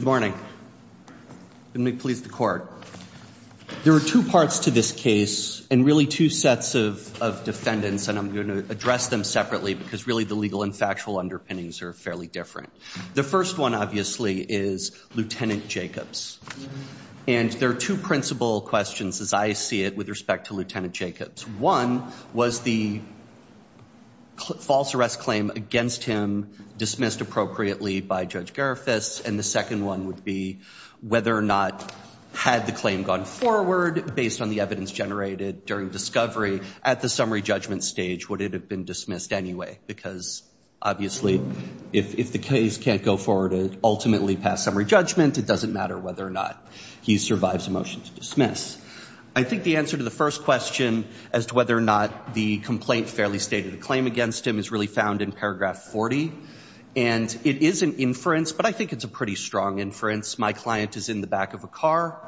Good morning. Let me please the court. There are two parts to this case, and really two sets of defendants, and I'm going to address them separately because really the legal and factual underpinnings are fairly different. The first one, obviously, is Lieutenant Jacobs. And there are two principal questions, as I see it, with respect to Lieutenant Jacobs. One was the false arrest claim against him, dismissed appropriately by Judge Garifas, and the second one would be whether or not, had the claim gone forward based on the evidence generated during discovery, at the summary judgment stage, would it have been dismissed anyway? Because obviously, if the case can't go forward and ultimately pass summary judgment, it doesn't matter whether or not he survives a motion to dismiss. I think the answer to the first question as to whether or not the complaint fairly stated a claim against him is really found in paragraph 40. And it is an inference, but I think it's a pretty strong inference. My client is in the back of a car.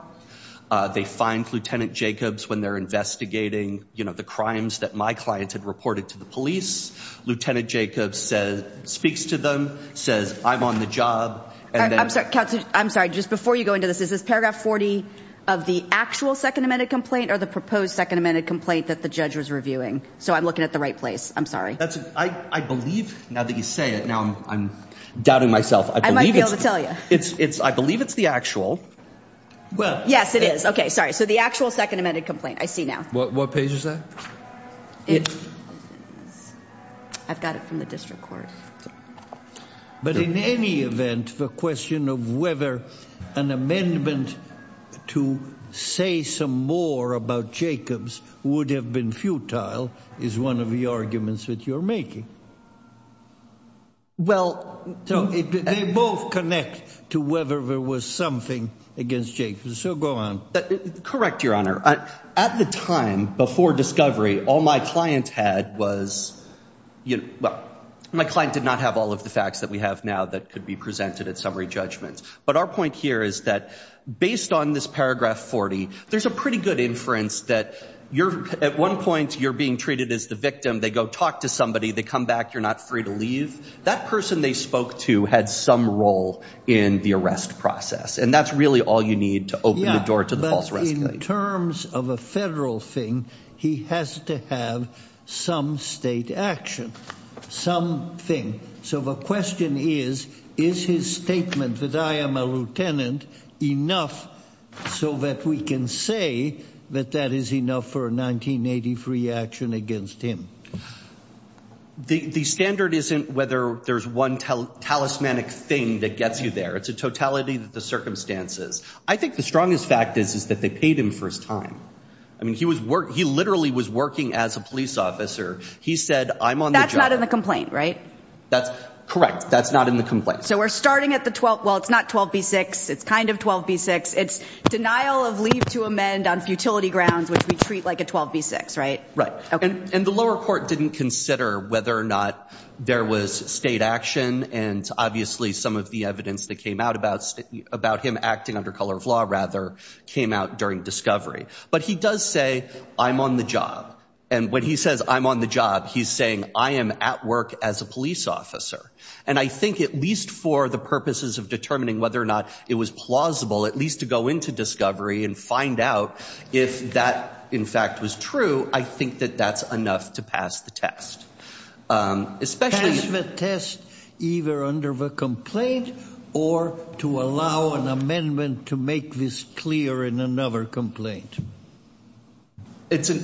They find Lieutenant Jacobs when they're investigating the crimes that my client had reported to the police. Lieutenant Jacobs speaks to them, says, I'm on the job. I'm sorry. I'm sorry. Just before you go into this, is this paragraph 40 of the actual Second Amendment complaint or the proposed Second Amendment complaint that the judge was reviewing? So I'm looking at the right place. I'm sorry. I believe, now that you say it, now I'm doubting myself. I might be able to tell you. I believe it's the actual. Yes, it is. Okay, sorry. So the actual Second Amendment complaint, I see now. What page is that? I've got it from the district court. But in any event, the question of whether an amendment to say some more about Jacobs would have been futile is one of the arguments that you're making. Well, so they both connect to whether there was something against Jacobs. So go on. Correct, Your Honor. At the time, before discovery, all my client had was, you know, well, my client did not have all of the facts that we have now that could be presented at summary judgment. But our point here is that based on this paragraph 40, there's a pretty good inference that at one point you're being treated as the victim. They go talk to somebody. They come back. You're not free to leave. That person they spoke to had some role in the arrest process, and that's really all you need to open the door to the false arrest. Yeah, but in terms of a federal thing, he has to have some state action, some thing. So the question is, is his statement that I am a lieutenant enough so that we can say that that is enough for a 1983 action against him? The standard isn't whether there's one talismanic thing that gets you there. It's a totality of the circumstances. I think the strongest fact is, is that they paid him for his time. I mean, he literally was working as a police officer. He said, I'm on the job. That's not in the complaint, right? That's correct. That's not in the complaint. So we're starting at the 12. Well, it's not 12 v. 6. It's kind of 12 v. 6. It's denial of leave to amend on futility grounds, which we treat like a 12 v. 6, right? Right. And the lower court didn't consider whether or not there was state action. And obviously some of the evidence that came out about him acting under color of law rather came out during discovery. But he does say, I'm on the job. And when he says I'm on the job, he's saying I am at work as a police officer. And I think at least for the purposes of determining whether or not it was plausible, at least to go into discovery and find out if that, in fact, was true, I think that that's enough to pass the test. Pass the test either under the complaint or to allow an amendment to make this clear in another complaint.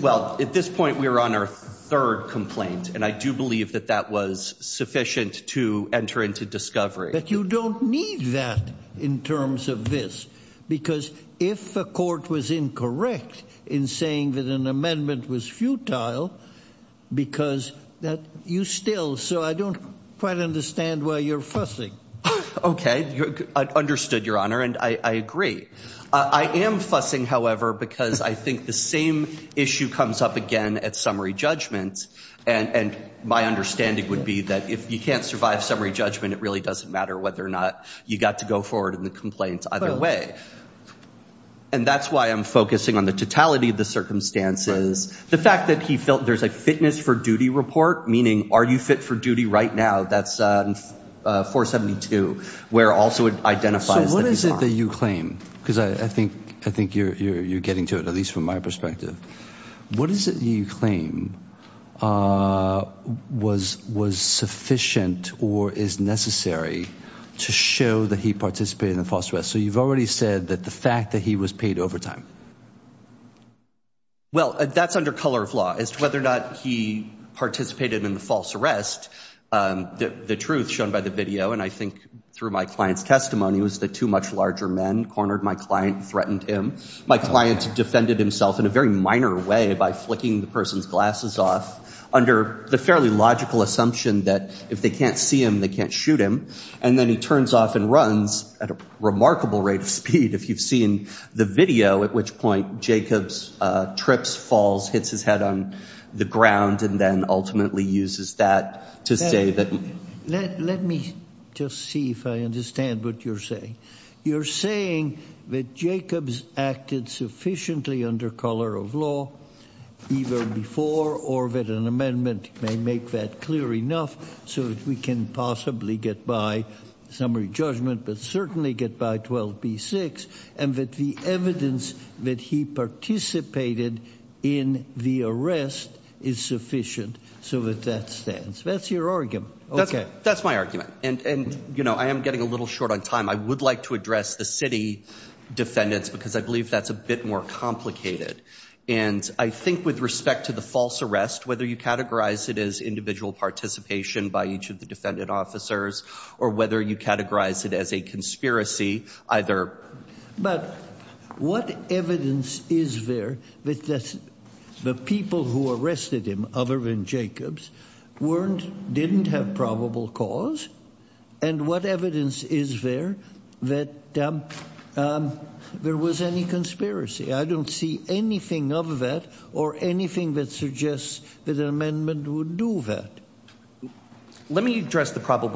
Well, at this point, we're on our third complaint. And I do believe that that was sufficient to enter into discovery. But you don't need that in terms of this, because if the court was incorrect in saying that an amendment was futile, because that you still, so I don't quite understand why you're fussing. OK, understood, Your Honor. And I agree. I am fussing, however, because I think the same issue comes up again at summary judgment. And my understanding would be that if you can't survive summary judgment, it really doesn't matter whether or not you got to go forward in the complaint either way. And that's why I'm focusing on the totality of the circumstances. The fact that he felt there's a fitness for duty report, meaning are you fit for duty right now? That's 472, where also it identifies that he's not. So what is it that you claim? Because I think you're getting to it, at least from my perspective. What is it that you claim was sufficient or is necessary to show that he participated in the false arrest? So you've already said that the fact that he was paid overtime. Well, that's under color of law as to whether or not he participated in the false arrest. The truth shown by the video, and I think through my client's testimony, was that two much larger men cornered my client and threatened him. My client defended himself in a very minor way by flicking the person's glasses off under the fairly logical assumption that if they can't see him, they can't shoot him. And then he turns off and runs at a remarkable rate of speed, if you've seen the video, at which point Jacobs trips, falls, hits his head on the ground, and then ultimately uses that to say that. Let me just see if I understand what you're saying. You're saying that Jacobs acted sufficiently under color of law, either before or that an amendment may make that clear enough so that we can possibly get by summary judgment, but certainly get by 12B6, and that the evidence that he participated in the arrest is sufficient so that that stands. That's your argument. Okay. That's my argument. And, you know, I am getting a little short on time. I would like to address the city defendants because I believe that's a bit more complicated. And I think with respect to the false arrest, whether you categorize it as individual participation by each of the defendant officers, or whether you categorize it as a conspiracy, either. But what evidence is there that the people who arrested him, other than Jacobs, didn't have probable cause? And what evidence is there that there was any conspiracy? I don't see anything of that or anything that suggests that an amendment would do that. Let me address the V.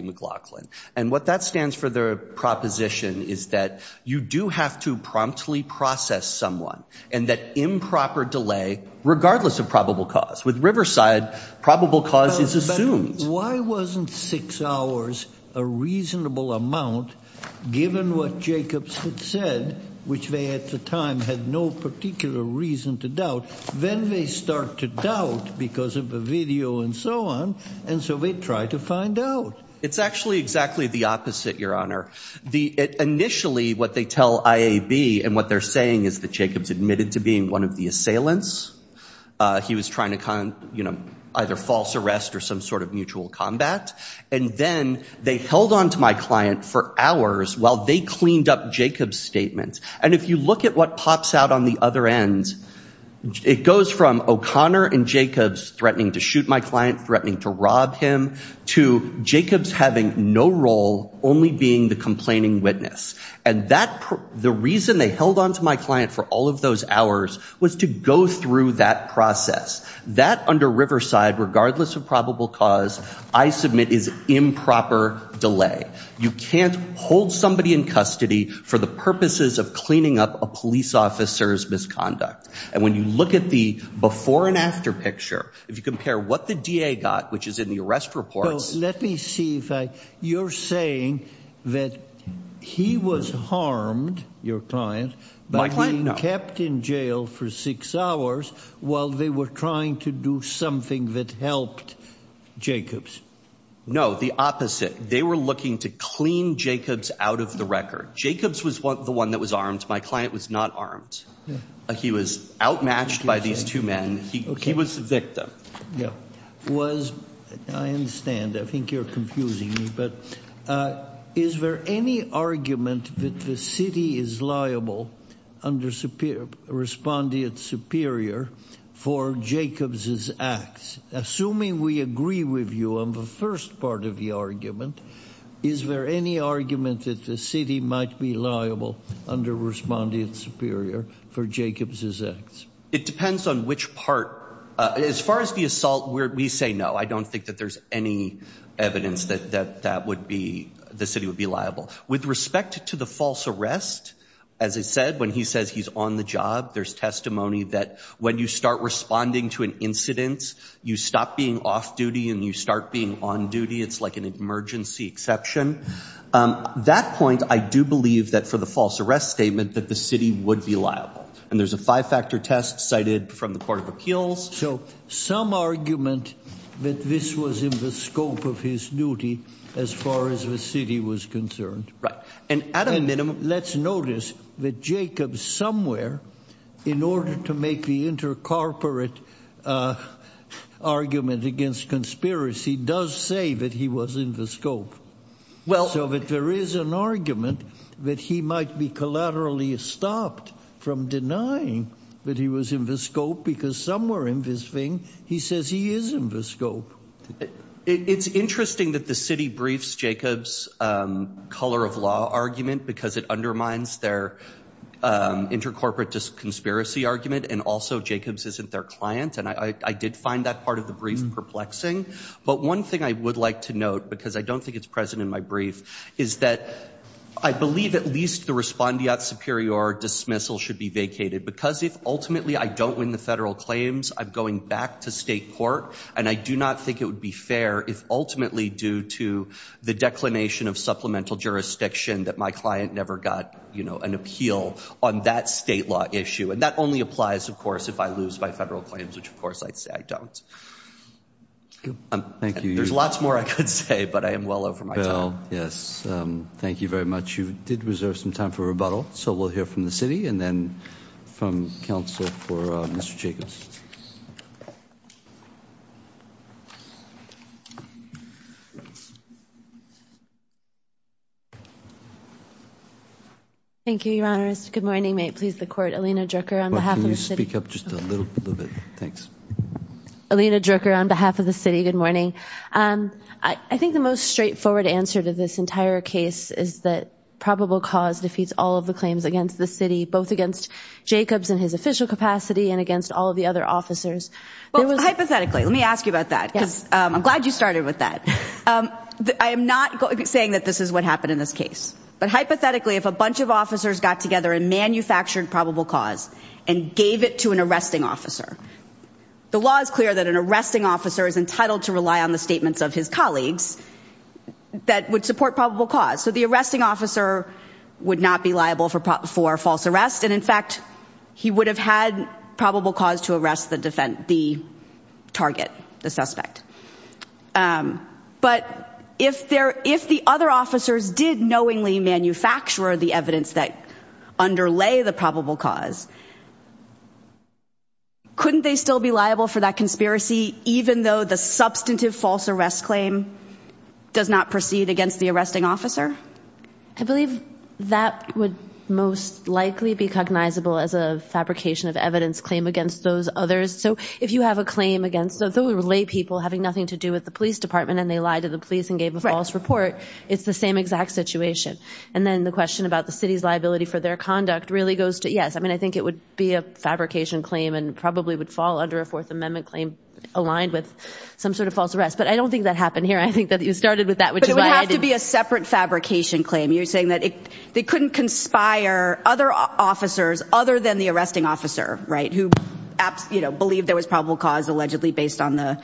McLaughlin. And what that stands for their proposition is that you do have to promptly process someone, and that improper delay, regardless of probable cause. With Riverside, probable cause is assumed. Why wasn't six hours a reasonable amount, given what Jacobs had said, which they at the time had no particular reason to doubt? Then they start to doubt because of video and so on. And so we try to find out. It's actually exactly the opposite, Your Honor. Initially, what they tell IAB and what they're saying is that Jacobs admitted to being one of the assailants. He was trying to, you know, either false arrest or some sort of mutual combat. And then they held on to my client for hours while they cleaned up Jacobs' statement. And if you look at what pops out on the other end, it goes from O'Connor and Jacobs threatening to shoot my client, threatening to rob him, to Jacobs having no role, only being the complaining witness. And that, the reason they held on to my client for all of those hours was to go through that process. That under Riverside, regardless of probable cause, I submit is improper delay. You can't hold somebody in custody for the purposes of cleaning up a police officer's misconduct. And when you look at the before and after picture, if you compare what the DA got, which is in the arrest report. Let me see if you're saying that he was harmed, your client, my client kept in jail for six hours while they were trying to do something that helped Jacobs. No, the opposite. They were looking to clean Jacobs out of the record. Jacobs was the one that was armed. My client was not armed. He was outmatched by these two men. He was a victim. Yeah. I understand. I think you're confusing me, but is there any argument that the city is liable under Respondent Superior for Jacobs' acts? Assuming we agree with you on the first part of the argument, is there any argument that the city might be liable under Respondent Superior for Jacobs' acts? It depends on which part. As far as the assault, we say no. I don't think that there's any evidence that the city would be liable. With respect to the false arrest, as I said, when he says he's on the job, there's testimony that when you start responding to an incident, you stop being off-duty and you start being on-duty. It's like an emergency exception. That point, I do believe that for the false arrest statement, that the city would be liable. And there's a five-factor test cited from the Court of Appeals. So some argument that this was in the scope of his duty as far as the city was concerned. And at a minimum, let's notice that Jacobs somewhere, in order to make the inter-corporate argument against conspiracy, does say that he was in the scope. So that there is an argument that he might be collaterally stopped from denying that he was in the scope because somewhere in this thing, he says he is in the scope. It's interesting that the city briefs Jacobs' color of law argument because it undermines their inter-corporate conspiracy argument. And also, Jacobs isn't their client. And I did find that part of the brief perplexing. But one thing I would like to note, because I don't think it's present in my brief, is that I believe at least the respondeat superior dismissal should be vacated. Because if ultimately I don't win the federal claims, I'm going back to state court. And I do not think it would be fair if ultimately due to the declination of supplemental jurisdiction that my client never got an appeal on that state law issue. And that only applies, of course, if I lose by federal claims, which of course, I'd say I don't. Thank you. There's lots more I could say, but I am well over my time. Yes. Thank you very much. You did reserve some time for rebuttal. So we'll hear from the city and then from counsel for Mr. Jacobs. Thank you, Your Honor. Good morning. May it please the court. Alina Drucker on behalf of the city. Can you speak up just a little bit? Thanks. Alina Drucker on behalf of the city. Good morning. I think the most straightforward answer to this entire case is that probable cause defeats all of the claims against the city, both against Jacobs and his official capacity and against all of the other officers. Well, hypothetically, let me ask you about that because I'm glad you started with that. I am not saying that this is what happened in this case, but hypothetically, if a bunch of officers got together and manufactured probable cause and gave it to an arresting officer, the law is clear that an arresting officer is entitled to rely on the statements of his colleagues that would support probable cause. So the arresting officer would not be liable for false arrest. And in fact, he would have had probable cause to arrest the target, the suspect. But if the other officers did knowingly manufacture the evidence that underlay the probable cause, couldn't they still be liable for that conspiracy, even though the substantive false arrest claim does not proceed against the arresting officer? I believe that would most likely be cognizable as a fabrication of evidence claim against those others. So if you have a claim against those lay people having nothing to do with the police department and they lied to the police and gave a false report, it's the same exact situation. And then the question about the city's liability for their conduct really goes to yes. I mean, I think it would be a fabrication claim and probably would fall under a Fourth Amendment claim aligned with some sort of false arrest. But I don't think that happened here. I think you started with that, which would have to be a separate fabrication claim. You're saying that they couldn't conspire other officers other than the arresting officer, right? Who believed there was probable cause allegedly based on the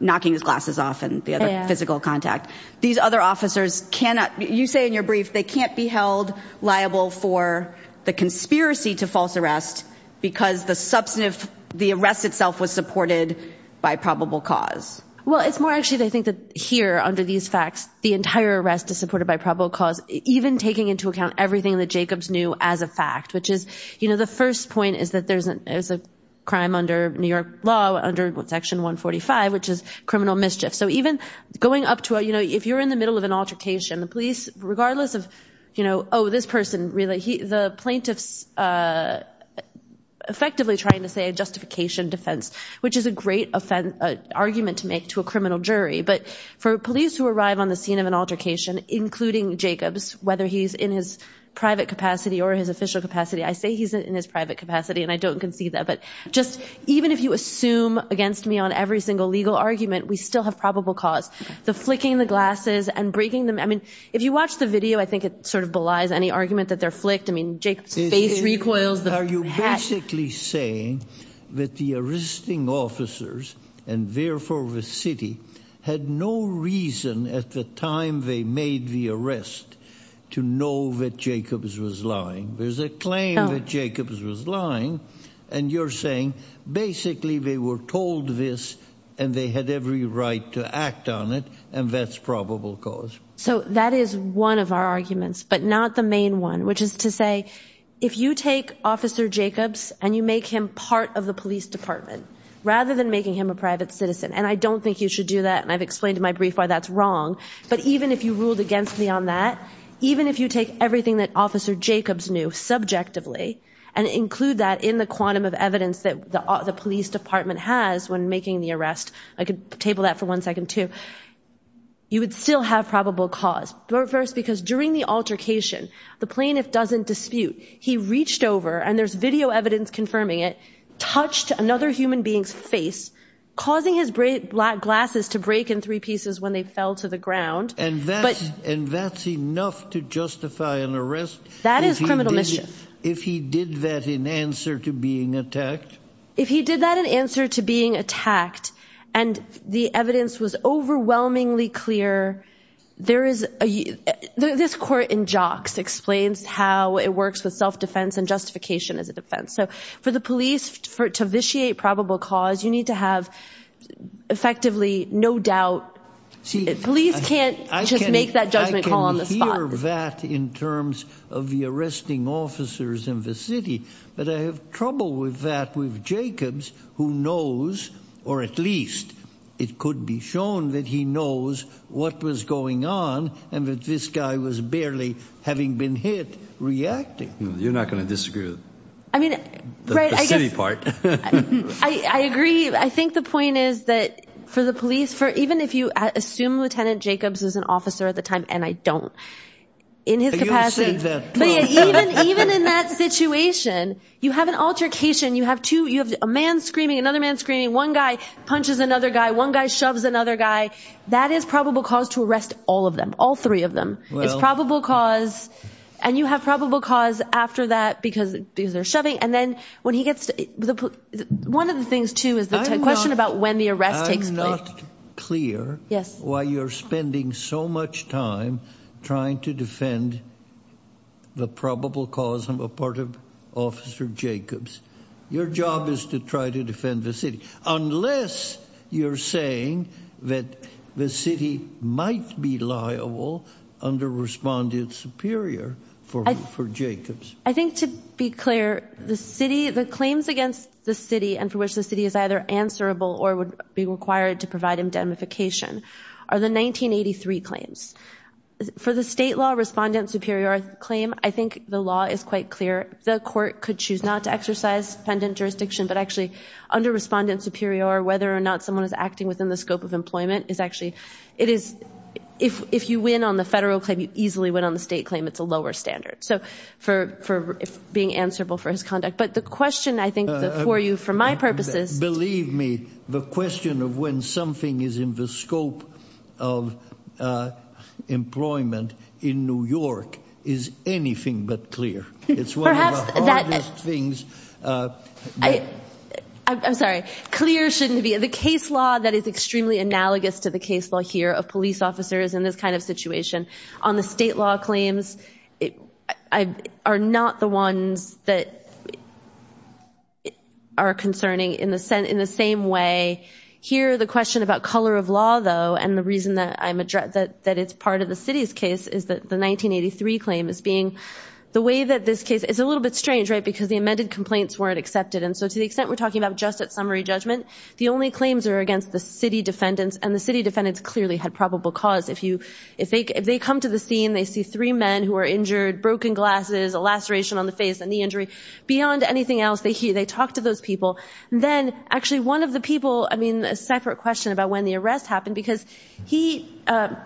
knocking his glasses off and the other physical contact. These other officers cannot, you say in your brief, they can't be held liable for the conspiracy to false arrest because the substantive, the arrest itself was supported by probable cause. Well, it's more actually, I think that here under these facts, the entire arrest is supported by probable cause, even taking into account everything that Jacobs knew as a fact, which is, you know, the first point is that there's a crime under New York law under Section 145, which is criminal mischief. So even going up to, you know, if you're in the middle of an altercation, the police, regardless of, you know, oh, this person really, the plaintiffs are effectively trying to say a justification defense, which is a great argument to make to a criminal jury. But for police who arrive on the scene of an altercation, including Jacobs, whether he's in his private capacity or his official capacity, I say he's in his private capacity and I don't concede that. But just even if you assume against me on every single legal argument, we still have probable cause. The flicking the glasses and breaking them. I mean, if you watch the video, I think it sort of belies any argument that they're flicked. I mean, are you basically saying that the arresting officers and therefore the city had no reason at the time they made the arrest to know that Jacobs was lying? There's a claim that Jacobs was lying. And you're saying basically they were told this and they had every right to act on it. And that's probable cause. So that is one of our arguments, but not the main one, which is to say, if you take Officer Jacobs and you make him part of the police department rather than making him a private citizen, and I don't think you should do that, and I've explained in my brief why that's wrong. But even if you ruled against me on that, even if you take everything that Officer Jacobs knew subjectively and include that in the quantum of evidence that the police department has when making the arrest, I could table that for one second too, you would still have probable cause. Because during the altercation, the plaintiff doesn't dispute. He reached over and there's video evidence confirming it, touched another human being's face, causing his black glasses to break in three pieces when they fell to the ground. And that's enough to justify an arrest? That is criminal mischief. If he did that in answer to being attacked? If he did that in answer to being attacked and the evidence was overwhelmingly clear, there is a, this court in jocks explains how it works with self-defense and justification as a defense. So for the police to vitiate probable cause, you need to have effectively no doubt. Police can't just make that judgment call on the spot. I can hear that in terms of the arresting officers in the city, but I have trouble with that with Jacobs who knows, or at least it could be shown that he knows what was going on and that this guy was barely having been hit reacting. You're not going to disagree with the city part. I agree. I think the point is that for the police, for even if you assume Lieutenant Jacobs is an officer at the time, and I don't, in his capacity, even in that situation, you have an altercation. You have two, you have a man screaming, another man screaming, one guy punches another guy, one guy shoves another guy. That is probable cause to arrest all of them, all three of them. It's probable cause. And you have probable cause after that, because these are shoving. And then when he gets to the, one of the things too, is the question about when the arrest takes clear. Yes. Why you're spending so much time trying to defend the probable cause. I'm a part of Jacobs. Your job is to try to defend the city unless you're saying that the city might be liable under respondent superior for Jacobs. I think to be clear, the city, the claims against the city and for which the city is either answerable or would be required to provide indemnification are the 1983 claims. For the state law respondent superior claim, I think the law is quite clear. The court could choose not to exercise pendant jurisdiction, but actually under respondent superior, whether or not someone is acting within the scope of employment is actually, it is, if, if you win on the federal claim, you easily went on the state claim. It's a lower standard. So for, for being answerable for his conduct, but the question I think for you, for my purposes, believe me, the question of when something is in the scope of employment in New York is anything but clear. It's one of the hardest things. I'm sorry. Clear shouldn't be the case law that is extremely analogous to the case law here of police officers in this kind of situation on the state law claims. I are not the ones that are concerning in the sense, in the same way here, the question about color of law though, and the reason that I'm addressing that it's part of the city's case is that the 1983 claim is being the way that this case is a little bit strange, right? Because the amended complaints weren't accepted. And so to the extent we're talking about just at summary judgment, the only claims are against the city defendants and the city defendants clearly had probable cause. If you, if they, if they come to the scene, they see three men who are injured, broken glasses, a laceration on the face and the injury beyond anything else they hear, they talk to those people. Then actually one of the people, I mean, a separate question about when the arrest happened, because he,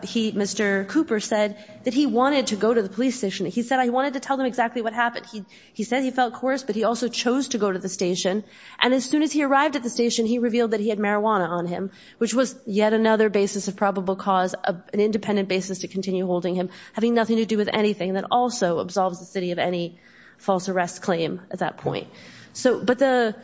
he, Mr. Cooper said that he wanted to go to the police station. He said, I wanted to tell them exactly what happened. He, he said he felt coerced, but he also chose to go to the station. And as soon as he arrived at the station, he revealed that he had marijuana on him, which was yet another basis of probable cause of an independent basis to continue holding him, having nothing to do with anything that also absolves the city of any false arrest claim at that point. So, but the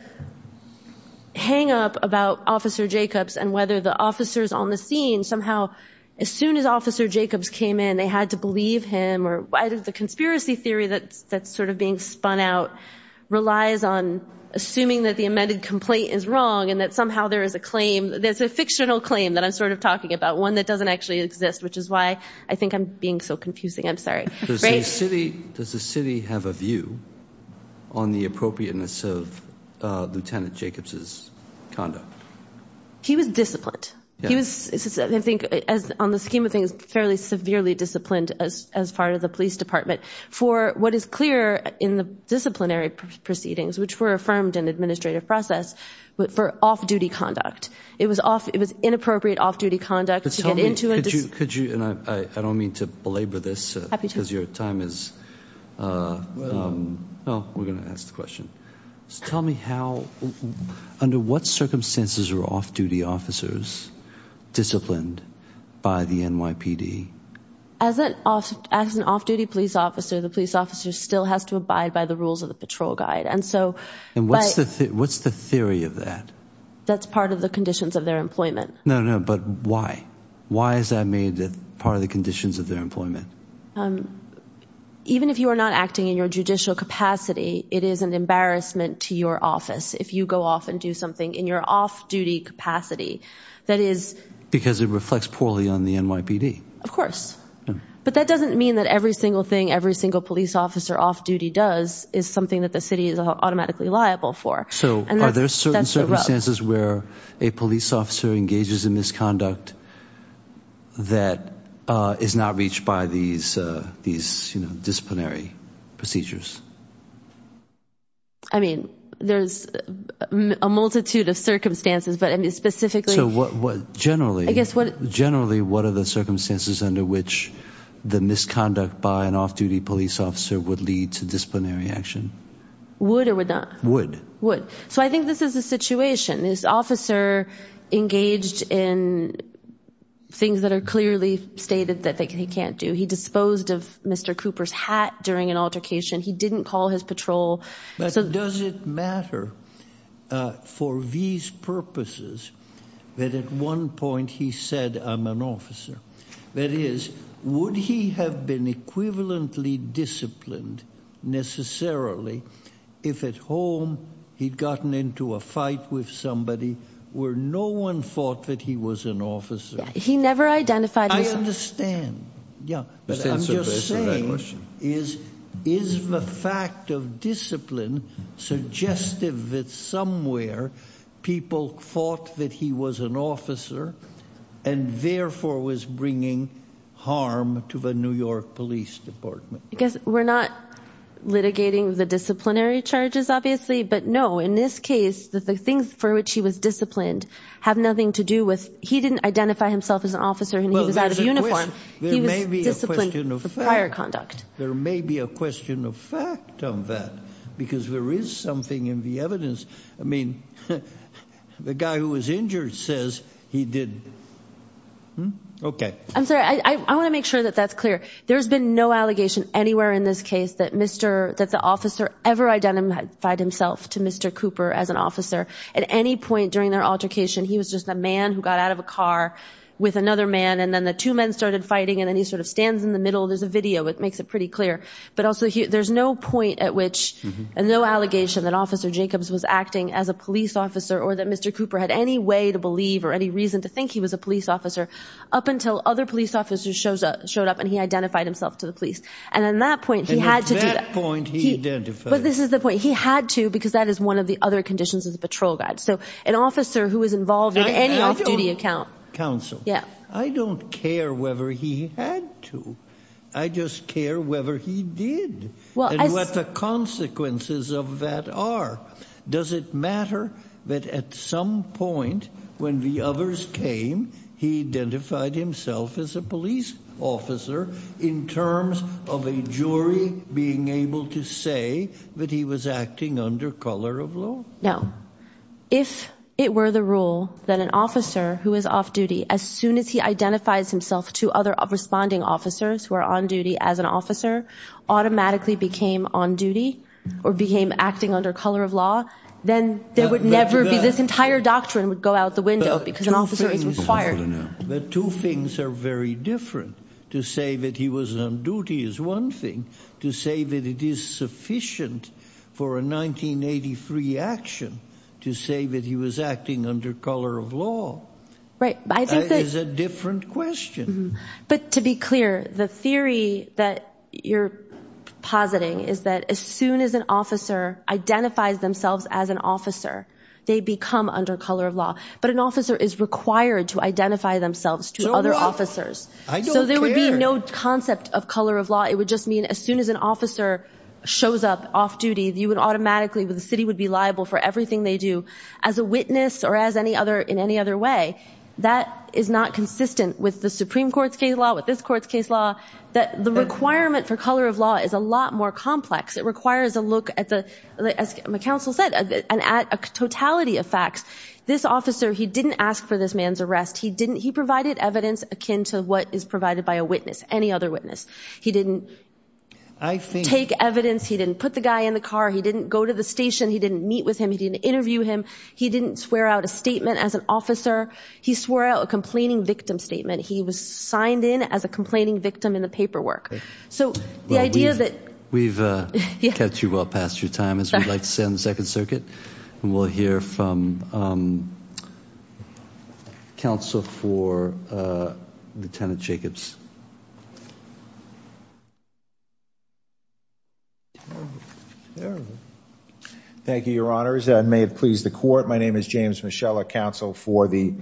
hang up about officer Jacobs and whether the officers on the scene somehow, as soon as officer Jacobs came in, they had to believe him or why did the conspiracy theory that's, that's sort of being spun out relies on assuming that the amended complaint is wrong and that somehow there is a claim that's a fictional claim that I'm sort of talking about, one that doesn't actually exist, which is why I think I'm being so confusing. I'm sorry. Does the city, does the city have a view on the appropriateness of Lieutenant Jacobs's conduct? He was disciplined. He was, I think as on the scheme of things, fairly severely disciplined as, as part of the police department for what is clear in the disciplinary proceedings, which were affirmed in administrative process, but for off duty conduct, it was off, it was inappropriate off duty conduct to get into it. Could you, could you, and I, I don't mean to this because your time is, well, we're going to ask the question. Tell me how, under what circumstances are off duty officers disciplined by the NYPD? As an off, as an off duty police officer, the police officer still has to abide by the rules of the patrol guide. And so, and what's the, what's the theory of that? That's part of the conditions of their employment. No, no. But why, why is that made part of the conditions of their employment? Even if you are not acting in your judicial capacity, it is an embarrassment to your office. If you go off and do something in your off duty capacity, that is. Because it reflects poorly on the NYPD. Of course. But that doesn't mean that every single thing, every single police officer off duty does is something that the city is automatically liable for. So are there certain circumstances where a police officer engages in misconduct that is not reached by these, these disciplinary procedures? I mean, there's a multitude of circumstances, but I mean, specifically. So what, what generally, generally, what are the circumstances under which the misconduct by an off duty police officer would lead to disciplinary action? Would or would not? Would. Would. So I think this is a situation. This officer engaged in things that are clearly stated that they can't do. He disposed of Mr. Cooper's hat during an altercation. He didn't call his patrol. But does it matter for these purposes that at one point he said, I'm an officer. That is, would he have been equivalently disciplined necessarily if at home he'd gotten into a fight with somebody where no one thought that he was an officer? He never identified. I understand. Yeah. But I'm just saying is, is the fact of discipline suggestive that somewhere people thought that he was an officer and therefore was bringing harm to the New York police department? I guess we're not litigating the disciplinary charges, obviously, but no, in this case, the things for which he was disciplined have nothing to do with, he didn't identify himself as an officer and he was out of uniform. He was disciplined for prior conduct. There may be a question of fact on that because there is something in the evidence. I mean, the guy who was injured says he did. Okay. I'm sorry. I want to make sure that that's clear. There's been no allegation anywhere in this case that Mr., that the officer ever identified himself to Mr. Cooper as an officer at any point during their altercation. He was just a man who got out of a car with another man. And then the two men started fighting and then he sort of stands in the middle. There's a video. It makes it pretty clear. But also there's no point at which, and no allegation that officer Jacobs was acting as a police officer or that Mr. Cooper had any way to believe or any reason to think he was a police officer up until other police officers showed up and he identified himself to the police. And at that point he had to do that. And at that point he identified. But this is the point. He had to, because that is one of the other conditions of the patrol guide. So an officer who was involved in any off-duty account. Counsel. Yeah. I don't care whether he had to. I just care whether he did and what the consequences of that are. Does it matter that at some point when the others came, he identified himself as a police officer in terms of a jury being able to say that he was acting under color of law? No. If it were the rule that an officer who is off duty, as soon as he identifies himself to other responding officers who are on duty as an officer automatically became on duty or became acting under color of law, then there would never be this entire doctrine would go out the window because an officer is required. The two things are very different. To say that he was on duty is one thing. To say that it is sufficient for a 1983 action to say that he was acting under color of law. Right. I think that is a different question. But to be clear, the theory that you're positing is that as soon as an officer identifies themselves as an officer, they become under color of law, but an officer is required to identify themselves to other officers. So there would be no concept of color of law. It would just mean as soon as an officer shows up off duty, the city would be liable for everything they do as a witness or in any other way. That is not consistent with the Supreme Court's case law, with this court's case law. The requirement for color of law is a lot more complex. It requires a look, as my counsel said, at a totality of facts. This officer, he didn't ask for this man's arrest. He provided evidence akin to what is provided by a witness, he didn't take evidence, he didn't put the guy in the car, he didn't go to the station, he didn't meet with him, he didn't interview him. He didn't swear out a statement as an officer. He swore out a complaining victim statement. He was signed in as a complaining victim in the paperwork. So the idea that- We've kept you well past your time, as we like to say on the Second Circuit. And we'll hear from counsel for Lieutenant Jacobs. Terrible. Terrible. Thank you, your honors. May it please the court, my name is James Michelle, a counsel for the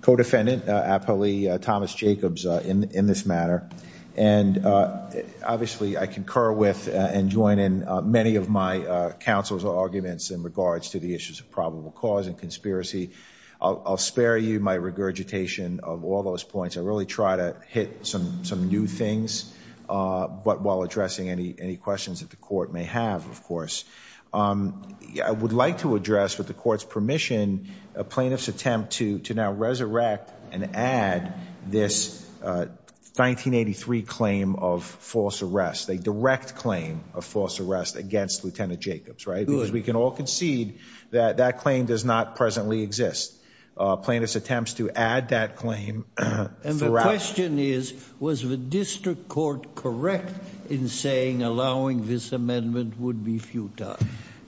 co-defendant, Apolli Thomas Jacobs, in this matter. And obviously, I concur with and join in many of my counsel's arguments in regards to the issues of probable cause and conspiracy. I'll spare you my regurgitation of all those points. I really try to hit some new things while addressing any questions that the court may have, of course. I would like to address, with the court's permission, a plaintiff's attempt to now resurrect and add this 1983 claim of false arrest, a direct claim of false arrest against Lieutenant Jacobs, right? Because we can all concede that that claim does not presently exist. Plaintiff's attempts to add that claim- And the question is, was the district court correct in saying, allowing this amendment would be futile?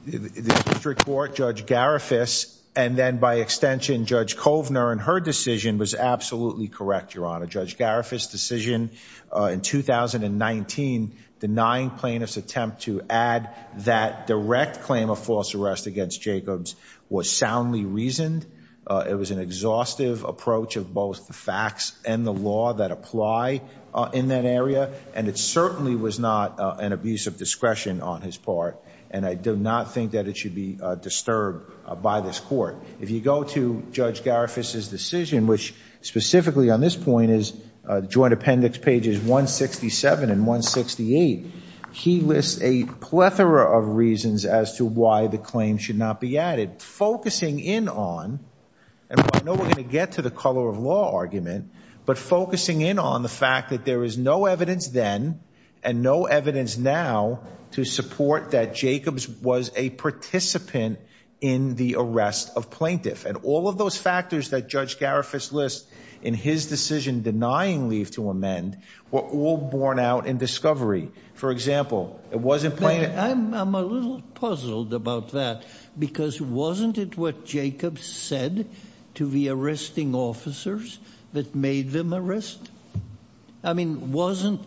The district court, Judge Garifas, and then by extension, Judge Kovner, and her decision was absolutely correct, your honor. Judge Garifas' decision in 2019, denying plaintiff's attempt to add that direct claim of false arrest against Jacobs was soundly reasoned. It was an exhaustive approach of both the facts and the law that apply in that area, and it certainly was not an abuse of discretion on his part, and I do not think that it should be disturbed by this court. If you go to Judge Garifas' decision, which specifically on this point is joint appendix pages 167 and 168, he lists a plethora of reasons as to why the claim should not be added. Focusing in on, and I know we're going to get to the color of law argument, but focusing in on the fact that there is no evidence then, and no evidence now, to support that Jacobs was a participant in the arrest of plaintiff. And all of those factors that Judge Garifas lists in his decision denying leave to amend were all borne out in discovery. For example, it wasn't plaintiff... I'm a little puzzled about that, because wasn't it what Jacobs said to the arresting officers that made them arrest? I mean, wasn't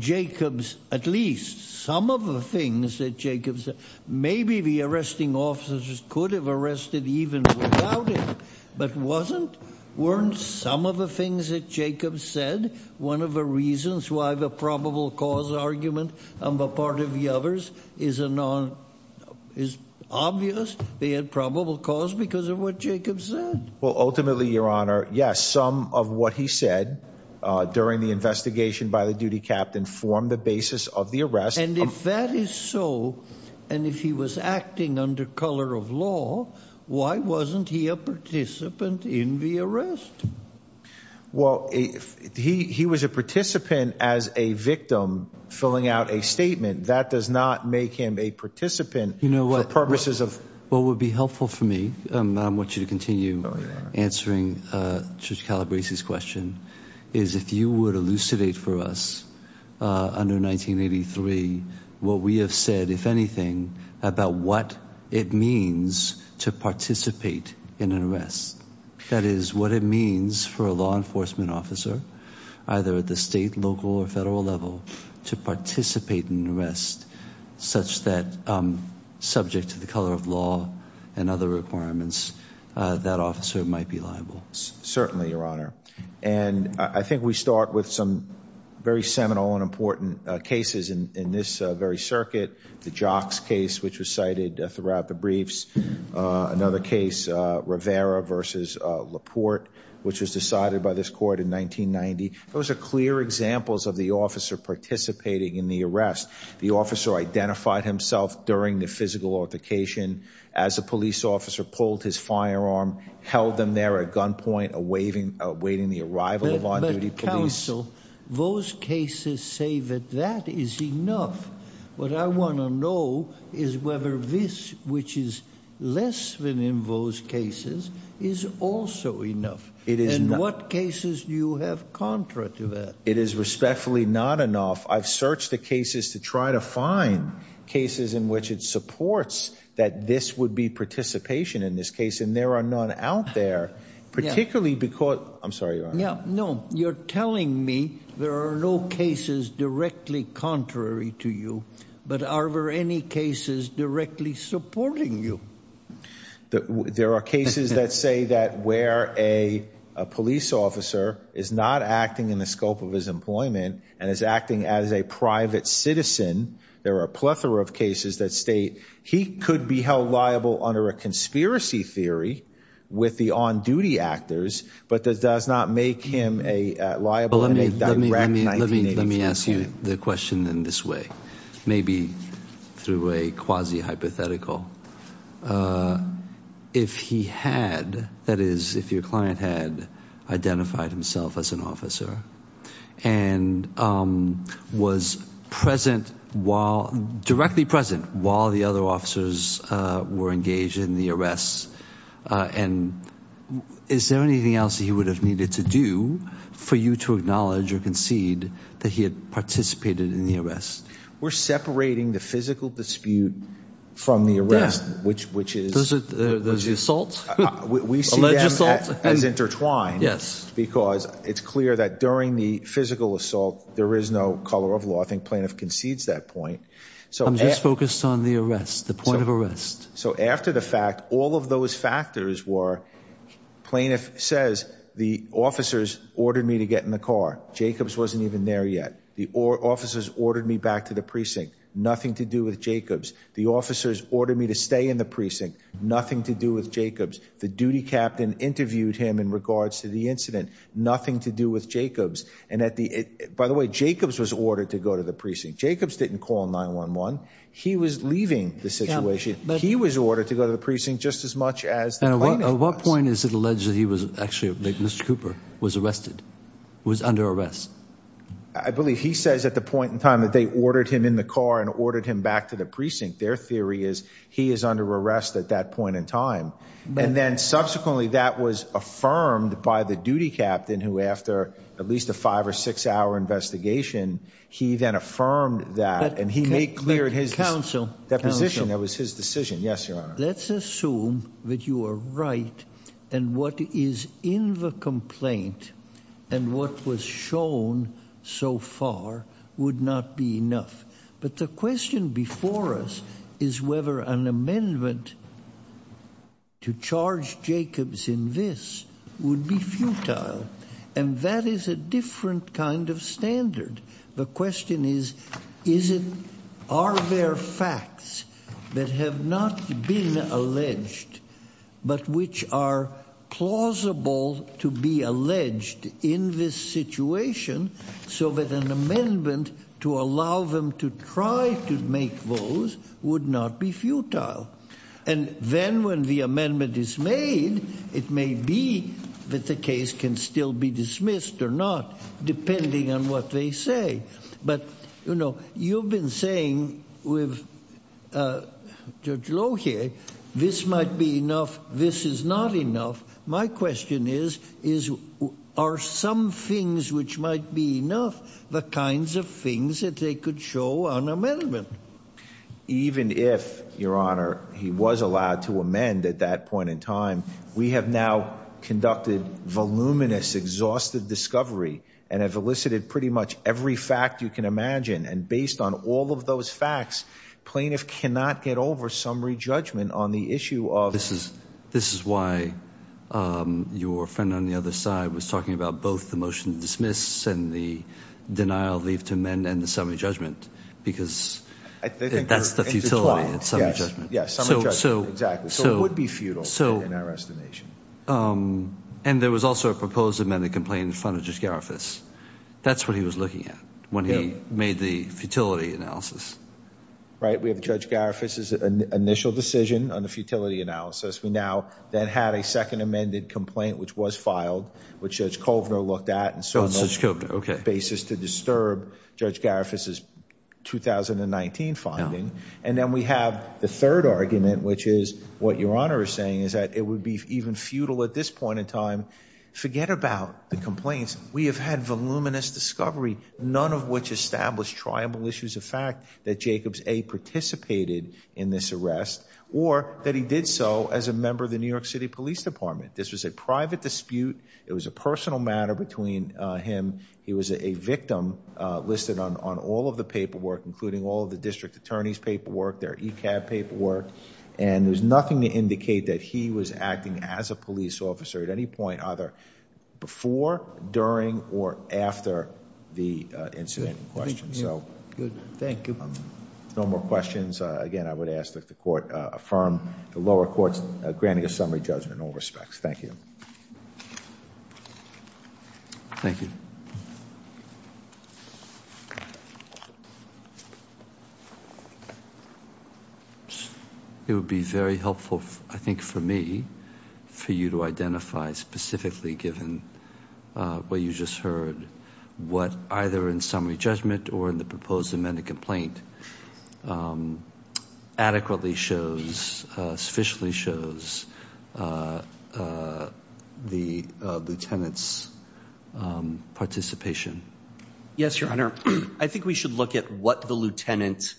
Jacobs, at least some of the things that Jacobs said, maybe the arresting officers could have arrested even without it, but wasn't, weren't some of the things that Jacobs said one of the reasons why the probable cause argument on the part of the others is a non, is obvious? They had probable cause because of what Jacobs said. Well, ultimately, your honor, yes, some of what he said during the investigation by the duty captain formed the basis of the arrest. And if that is so, and if he was Well, if he was a participant as a victim, filling out a statement that does not make him a participant, for purposes of... What would be helpful for me, and I want you to continue answering Judge Calabrese's question, is if you would elucidate for us under 1983, what we have said, if anything, about what it means to participate in an arrest. That is, what it means for a law enforcement officer, either at the state, local or federal level, to participate in an arrest, such that subject to the color of law and other requirements, that officer might be liable. Certainly, your honor. And I think we start with some very seminal and important cases in this very circuit. The jocks case, which was cited throughout the briefs. Another case, Rivera versus Laporte, which was decided by this court in 1990. Those are clear examples of the officer participating in the arrest. The officer identified himself during the physical altercation, as a police officer pulled his firearm, held them there at gunpoint, awaiting the arrival of on-duty police. But counsel, those cases say that that is enough. What I want to know is whether this, which is less than in those cases, is also enough. It is not. And what cases do you have contra to that? It is respectfully not enough. I've searched the cases to try to find cases in which it supports that this would be participation in this case. And there are none out there, particularly because, I'm sorry, your honor. No, you're telling me there are no cases directly contrary to you, but are there any cases directly supporting you? There are cases that say that where a police officer is not acting in the scope of his employment and is acting as a private citizen, there are a plethora of cases that state he could be held liable under a conspiracy theory with the on-duty actors, but that does not make him a liable. Well, let me ask you the question in this way, maybe through a quasi-hypothetical. If he had, that is, if your client had identified himself as an officer and was present while, directly present while the other officers were engaged in the arrest, and is there anything else that he would have needed to do for you to acknowledge or concede that he had participated in the arrest? We're separating the physical dispute from the arrest, which is- Does he assault? Alleged assault? We see them as intertwined because it's clear that during the physical assault, there is no color of law. I think plaintiff concedes that point. I'm just focused on the arrest, the point of arrest. So after the fact, all of those factors were, plaintiff says, the officers ordered me to get in the car. Jacobs wasn't even there yet. The officers ordered me back to the precinct, nothing to do with Jacobs. The officers ordered me to stay in the precinct, nothing to do with Jacobs. The duty captain interviewed him in regards to the incident, nothing to do with Jacobs. By the way, Jacobs was ordered to go to the precinct. Jacobs didn't call 911. He was leaving the situation. He was ordered to go to the precinct just as much as the plaintiff was. At what point is it alleged that he was actually, Mr. Cooper, was arrested, was under arrest? I believe he says at the point in time that they ordered him in the car and ordered him back to the precinct. Their theory is he is under arrest at that point in time. And then subsequently that was affirmed by the duty captain who after at least a five or six hour investigation, he then affirmed that and he made clear his position. That was his decision. Yes, Your Honor. Let's assume that you are right and what is in the complaint and what was shown so far would not be enough. But the question before us is whether an amendment to charge Jacobs in this would be futile. And that is a different kind of standard. The question is, are there facts that have not been alleged, but which are plausible to be alleged in this situation so that an amendment to allow them to try to make those would not be futile? If an amendment is made, it may be that the case can still be dismissed or not, depending on what they say. But, you know, you've been saying with Judge Lohier, this might be enough. This is not enough. My question is, are some things which might be enough, the kinds of things that they could show on amendment? Even if, Your Honor, he was allowed to amend at that point in time, we have now conducted voluminous, exhausted discovery and have elicited pretty much every fact you can imagine. And based on all of those facts, plaintiff cannot get over summary judgment on the issue of. This is why your friend on the other side was talking about both the motion to That's the futility of summary judgment. Yes. Summary judgment. Exactly. So it would be futile in our estimation. And there was also a proposed amended complaint in front of Judge Garifus. That's what he was looking at when he made the futility analysis. Right. We have Judge Garifus's initial decision on the futility analysis. We now then had a second amended complaint, which was filed, which Judge Kovner looked at. Judge Kovner. Okay. Basis to disturb Judge Garifus's 2019 finding. And then we have the third argument, which is what Your Honor is saying is that it would be even futile at this point in time. Forget about the complaints. We have had voluminous discovery, none of which established tribal issues of fact that Jacobs A participated in this arrest or that he did so as a member of the New York City Police Department. This was a private dispute. It was a personal matter between him. He was a victim listed on all of the paperwork, including all of the district attorney's paperwork, their ECAB paperwork. And there's nothing to indicate that he was acting as a police officer at any point either before, during, or after the incident in question. So thank you. No more questions. Again, I would ask that the court affirm the lower courts granting a summary judgment in all respects. Thank you. Thank you. It would be very helpful, I think for me, for you to identify specifically given what you just heard, what either in summary judgment or in the proposed amended complaint adequately shows, sufficiently shows the lieutenant's participation. Yes, your honor. I think we should look at what the lieutenant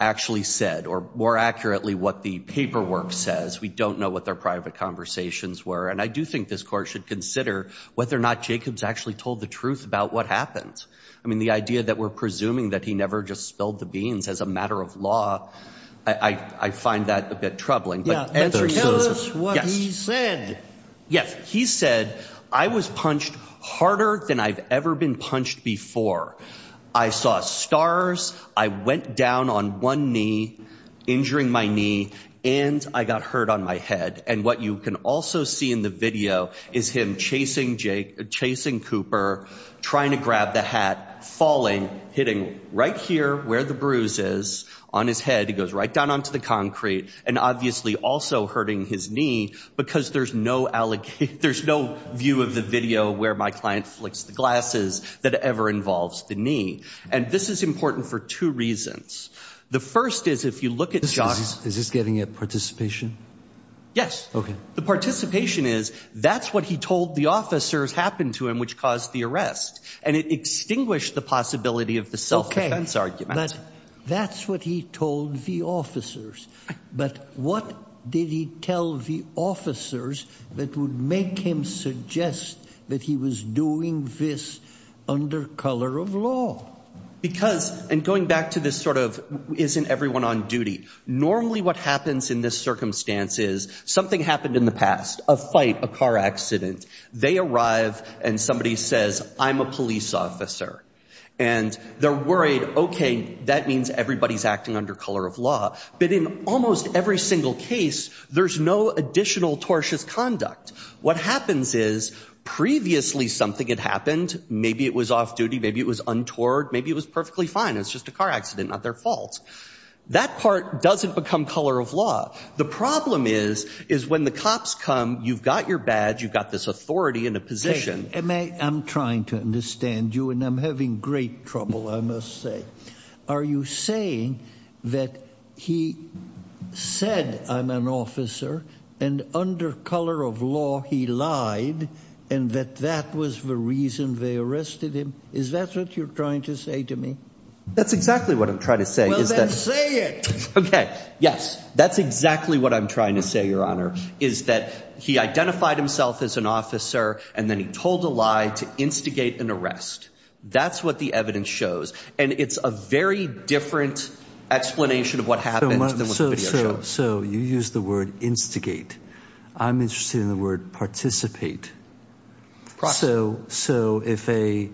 actually said or more accurately what the paperwork says. We don't know what their private conversations were. And I do think this court should consider whether or not Jacobs actually told the truth about what happened. I mean, the idea that we're presuming that he never just spilled the beans as a matter of law, I find that a bit troubling. Yeah. Tell us what he said. Yes. He said, I was punched harder than I've ever been punched before. I saw stars. I went down on one knee, injuring my knee, and I got hurt on my head. And what you can also see in the video is him chasing Jake, chasing Cooper, trying to grab the hat, falling, hitting right here where the bruise is on his head. He goes right down onto the concrete and obviously also hurting his knee because there's no view of the video where my client flicks the glasses that ever involves the knee. And this is important for two reasons. The first is if you look at the shot. Is this getting a participation? Yes. The participation is, that's what he told the officers happened to him, which caused the arrest. And it extinguished the possibility of the self-defense argument. But that's what he told the officers. But what did he tell the officers that would make him suggest that he was doing this under color of law? Because, and going back to this sort of, isn't everyone on duty? Normally what happens in this circumstance is something happened in the past, a fight, a car accident. They arrive and somebody says, I'm a police officer. And they're worried, okay, that means everybody's acting under color of law. But in almost every single case, there's no additional tortious conduct. What happens is previously something had happened. Maybe it was off duty. Maybe it was untoward. Maybe it was perfectly fine. It's just a car accident, not their fault. That part doesn't become color of law. The problem is, is when the cops come, you've got your badge. You've got this authority in a position. I'm trying to understand you and I'm having great trouble. I must say, are you saying that he said, I'm an officer and under color of law, he lied and that that was the reason they arrested him? Is that what you're trying to say to me? That's exactly what I'm trying to say. Okay. Yes. That's exactly what I'm trying to say. Your honor is that he identified himself as an officer and then he told a lie to instigate an arrest. That's what the evidence shows. And it's a very different explanation of what happened. So you use the word instigate. I'm interested in the word participate. So, so if a,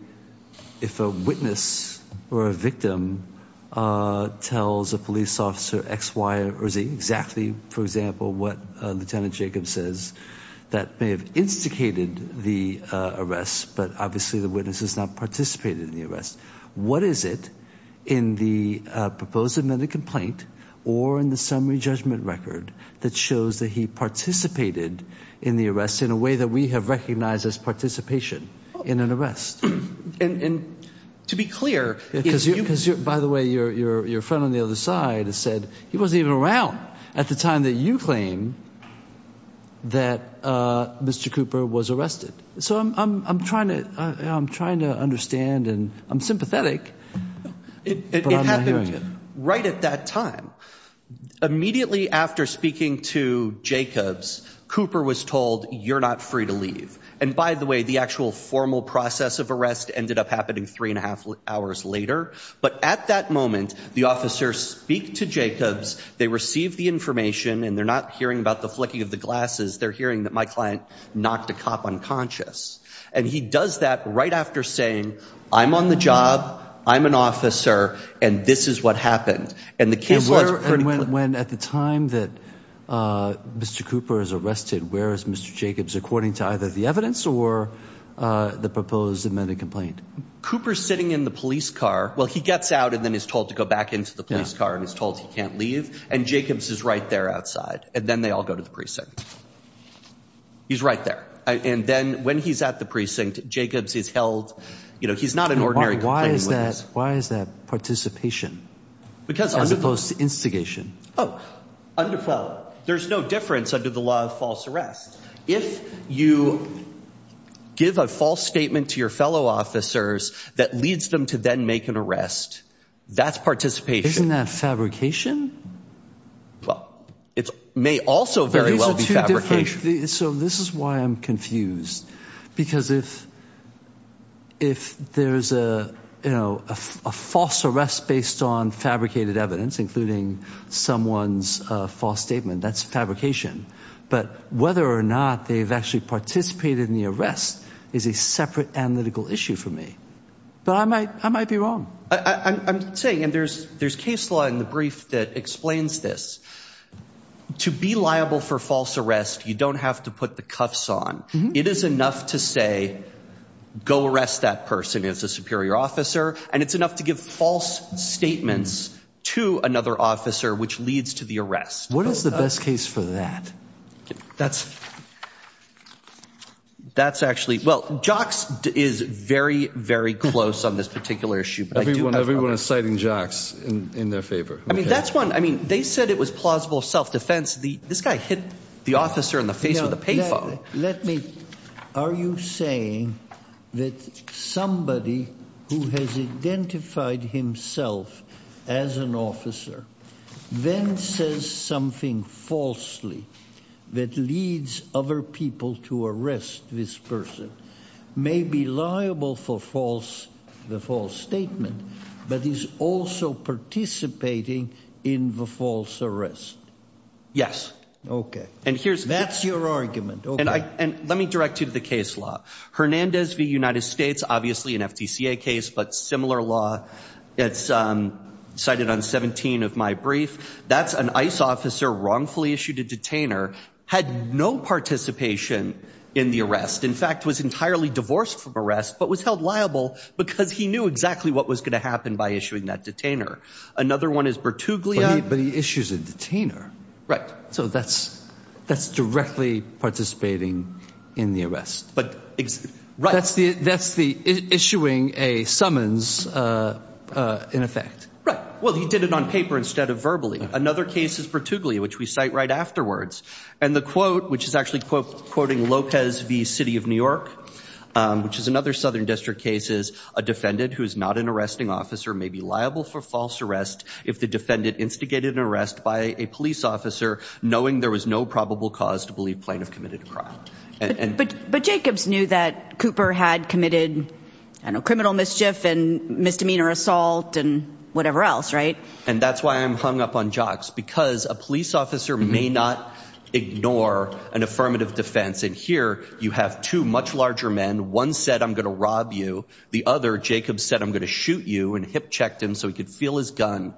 if a witness or a victim, uh, tells a police officer X, Y, or Z exactly, for example, what a Lieutenant Jacob says that may have instigated the, uh, arrest, but obviously the witness has not participated in the arrest. What is it in the proposed amended complaint or in the summary judgment record that shows that he participated in the arrest in a way that we have recognized as participation in an arrest. And to be clear, because you, because by the way, your, your, your friend on the other side has said he wasn't even around at the time that you claim that, uh, Mr. Cooper was arrested. So I'm, I'm, I'm trying to, I'm trying to understand and I'm sympathetic. It happened right at that time. Immediately after speaking to And by the way, the actual formal process of arrest ended up happening three and a half hours later. But at that moment, the officer speak to Jacobs, they receive the information and they're not hearing about the flicking of the glasses. They're hearing that my client knocked a cop unconscious. And he does that right after saying, I'm on the job, I'm an officer, and this is what happened. And the case- When, at the time that, uh, Mr. Cooper is arrested, where is Mr. Jacobs according to either the evidence or, uh, the proposed amended complaint? Cooper's sitting in the police car. Well, he gets out and then is told to go back into the police car and is told he can't leave. And Jacobs is right there outside. And then they all go to the precinct. He's right there. And then when he's at the precinct, Jacobs is held, you know, he's not an ordinary- Why is that? Why is that participation? Because- Oh, under, well, there's no difference under the law of false arrest. If you give a false statement to your fellow officers that leads them to then make an arrest, that's participation. Isn't that fabrication? Well, it may also very well be fabrication. So this is why I'm confused. Because if, if there's a, you know, a false arrest based on someone's false statement, that's fabrication. But whether or not they've actually participated in the arrest is a separate analytical issue for me. But I might, I might be wrong. I'm saying, and there's, there's case law in the brief that explains this. To be liable for false arrest, you don't have to put the cuffs on. It is enough to say, go arrest that person as a superior officer. And it's enough to give false statements to another officer, which leads to the arrest. What is the best case for that? That's, that's actually, well, Jocks is very, very close on this particular issue. But everyone, everyone is citing Jocks in their favor. I mean, that's one, I mean, they said it was plausible self-defense. The, this guy hit the officer in the face with a payphone. Let me, are you saying that somebody who has identified himself as an officer then says something falsely that leads other people to arrest this person, may be liable for false, the false statement, but is also participating in the false arrest? Yes. Okay. And here's- That's your argument. And I, and let me direct you to the case law. Hernandez v. United States, that's an ICE officer wrongfully issued a detainer, had no participation in the arrest. In fact, was entirely divorced from arrest, but was held liable because he knew exactly what was going to happen by issuing that detainer. Another one is Bertuglia. But he issues a detainer. Right. So that's, that's directly participating in the arrest. But, right. That's the, that's the issuing a summons in effect. Right. Well, he did it on paper instead of verbally. Another case is Bertuglia, which we cite right afterwards. And the quote, which is actually quote, quoting Lopez v. City of New York, which is another Southern district cases, a defendant who is not an arresting officer may be liable for false arrest. If the defendant instigated an arrest by a police officer, knowing there was no probable cause to believe plaintiff committed a crime. But Jacobs knew that Cooper had committed criminal mischief and misdemeanor assault. And whatever else. Right. And that's why I'm hung up on jocks, because a police officer may not ignore an affirmative defense. And here you have two much larger men. One said, I'm going to rob you. The other Jacob said, I'm going to shoot you and hip checked him so he could feel his gun.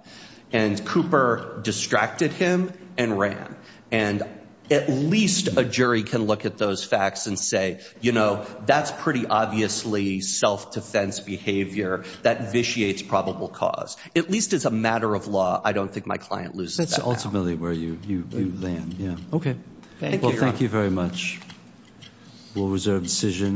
And Cooper distracted him and ran. And at least a jury can look at those facts and say, you know, that's pretty obviously self-defense behavior that vitiates probable cause. At least it's a matter of law. I don't think my client loses. That's ultimately where you land. Yeah. OK. Thank you. Thank you very much. We'll reserve decision.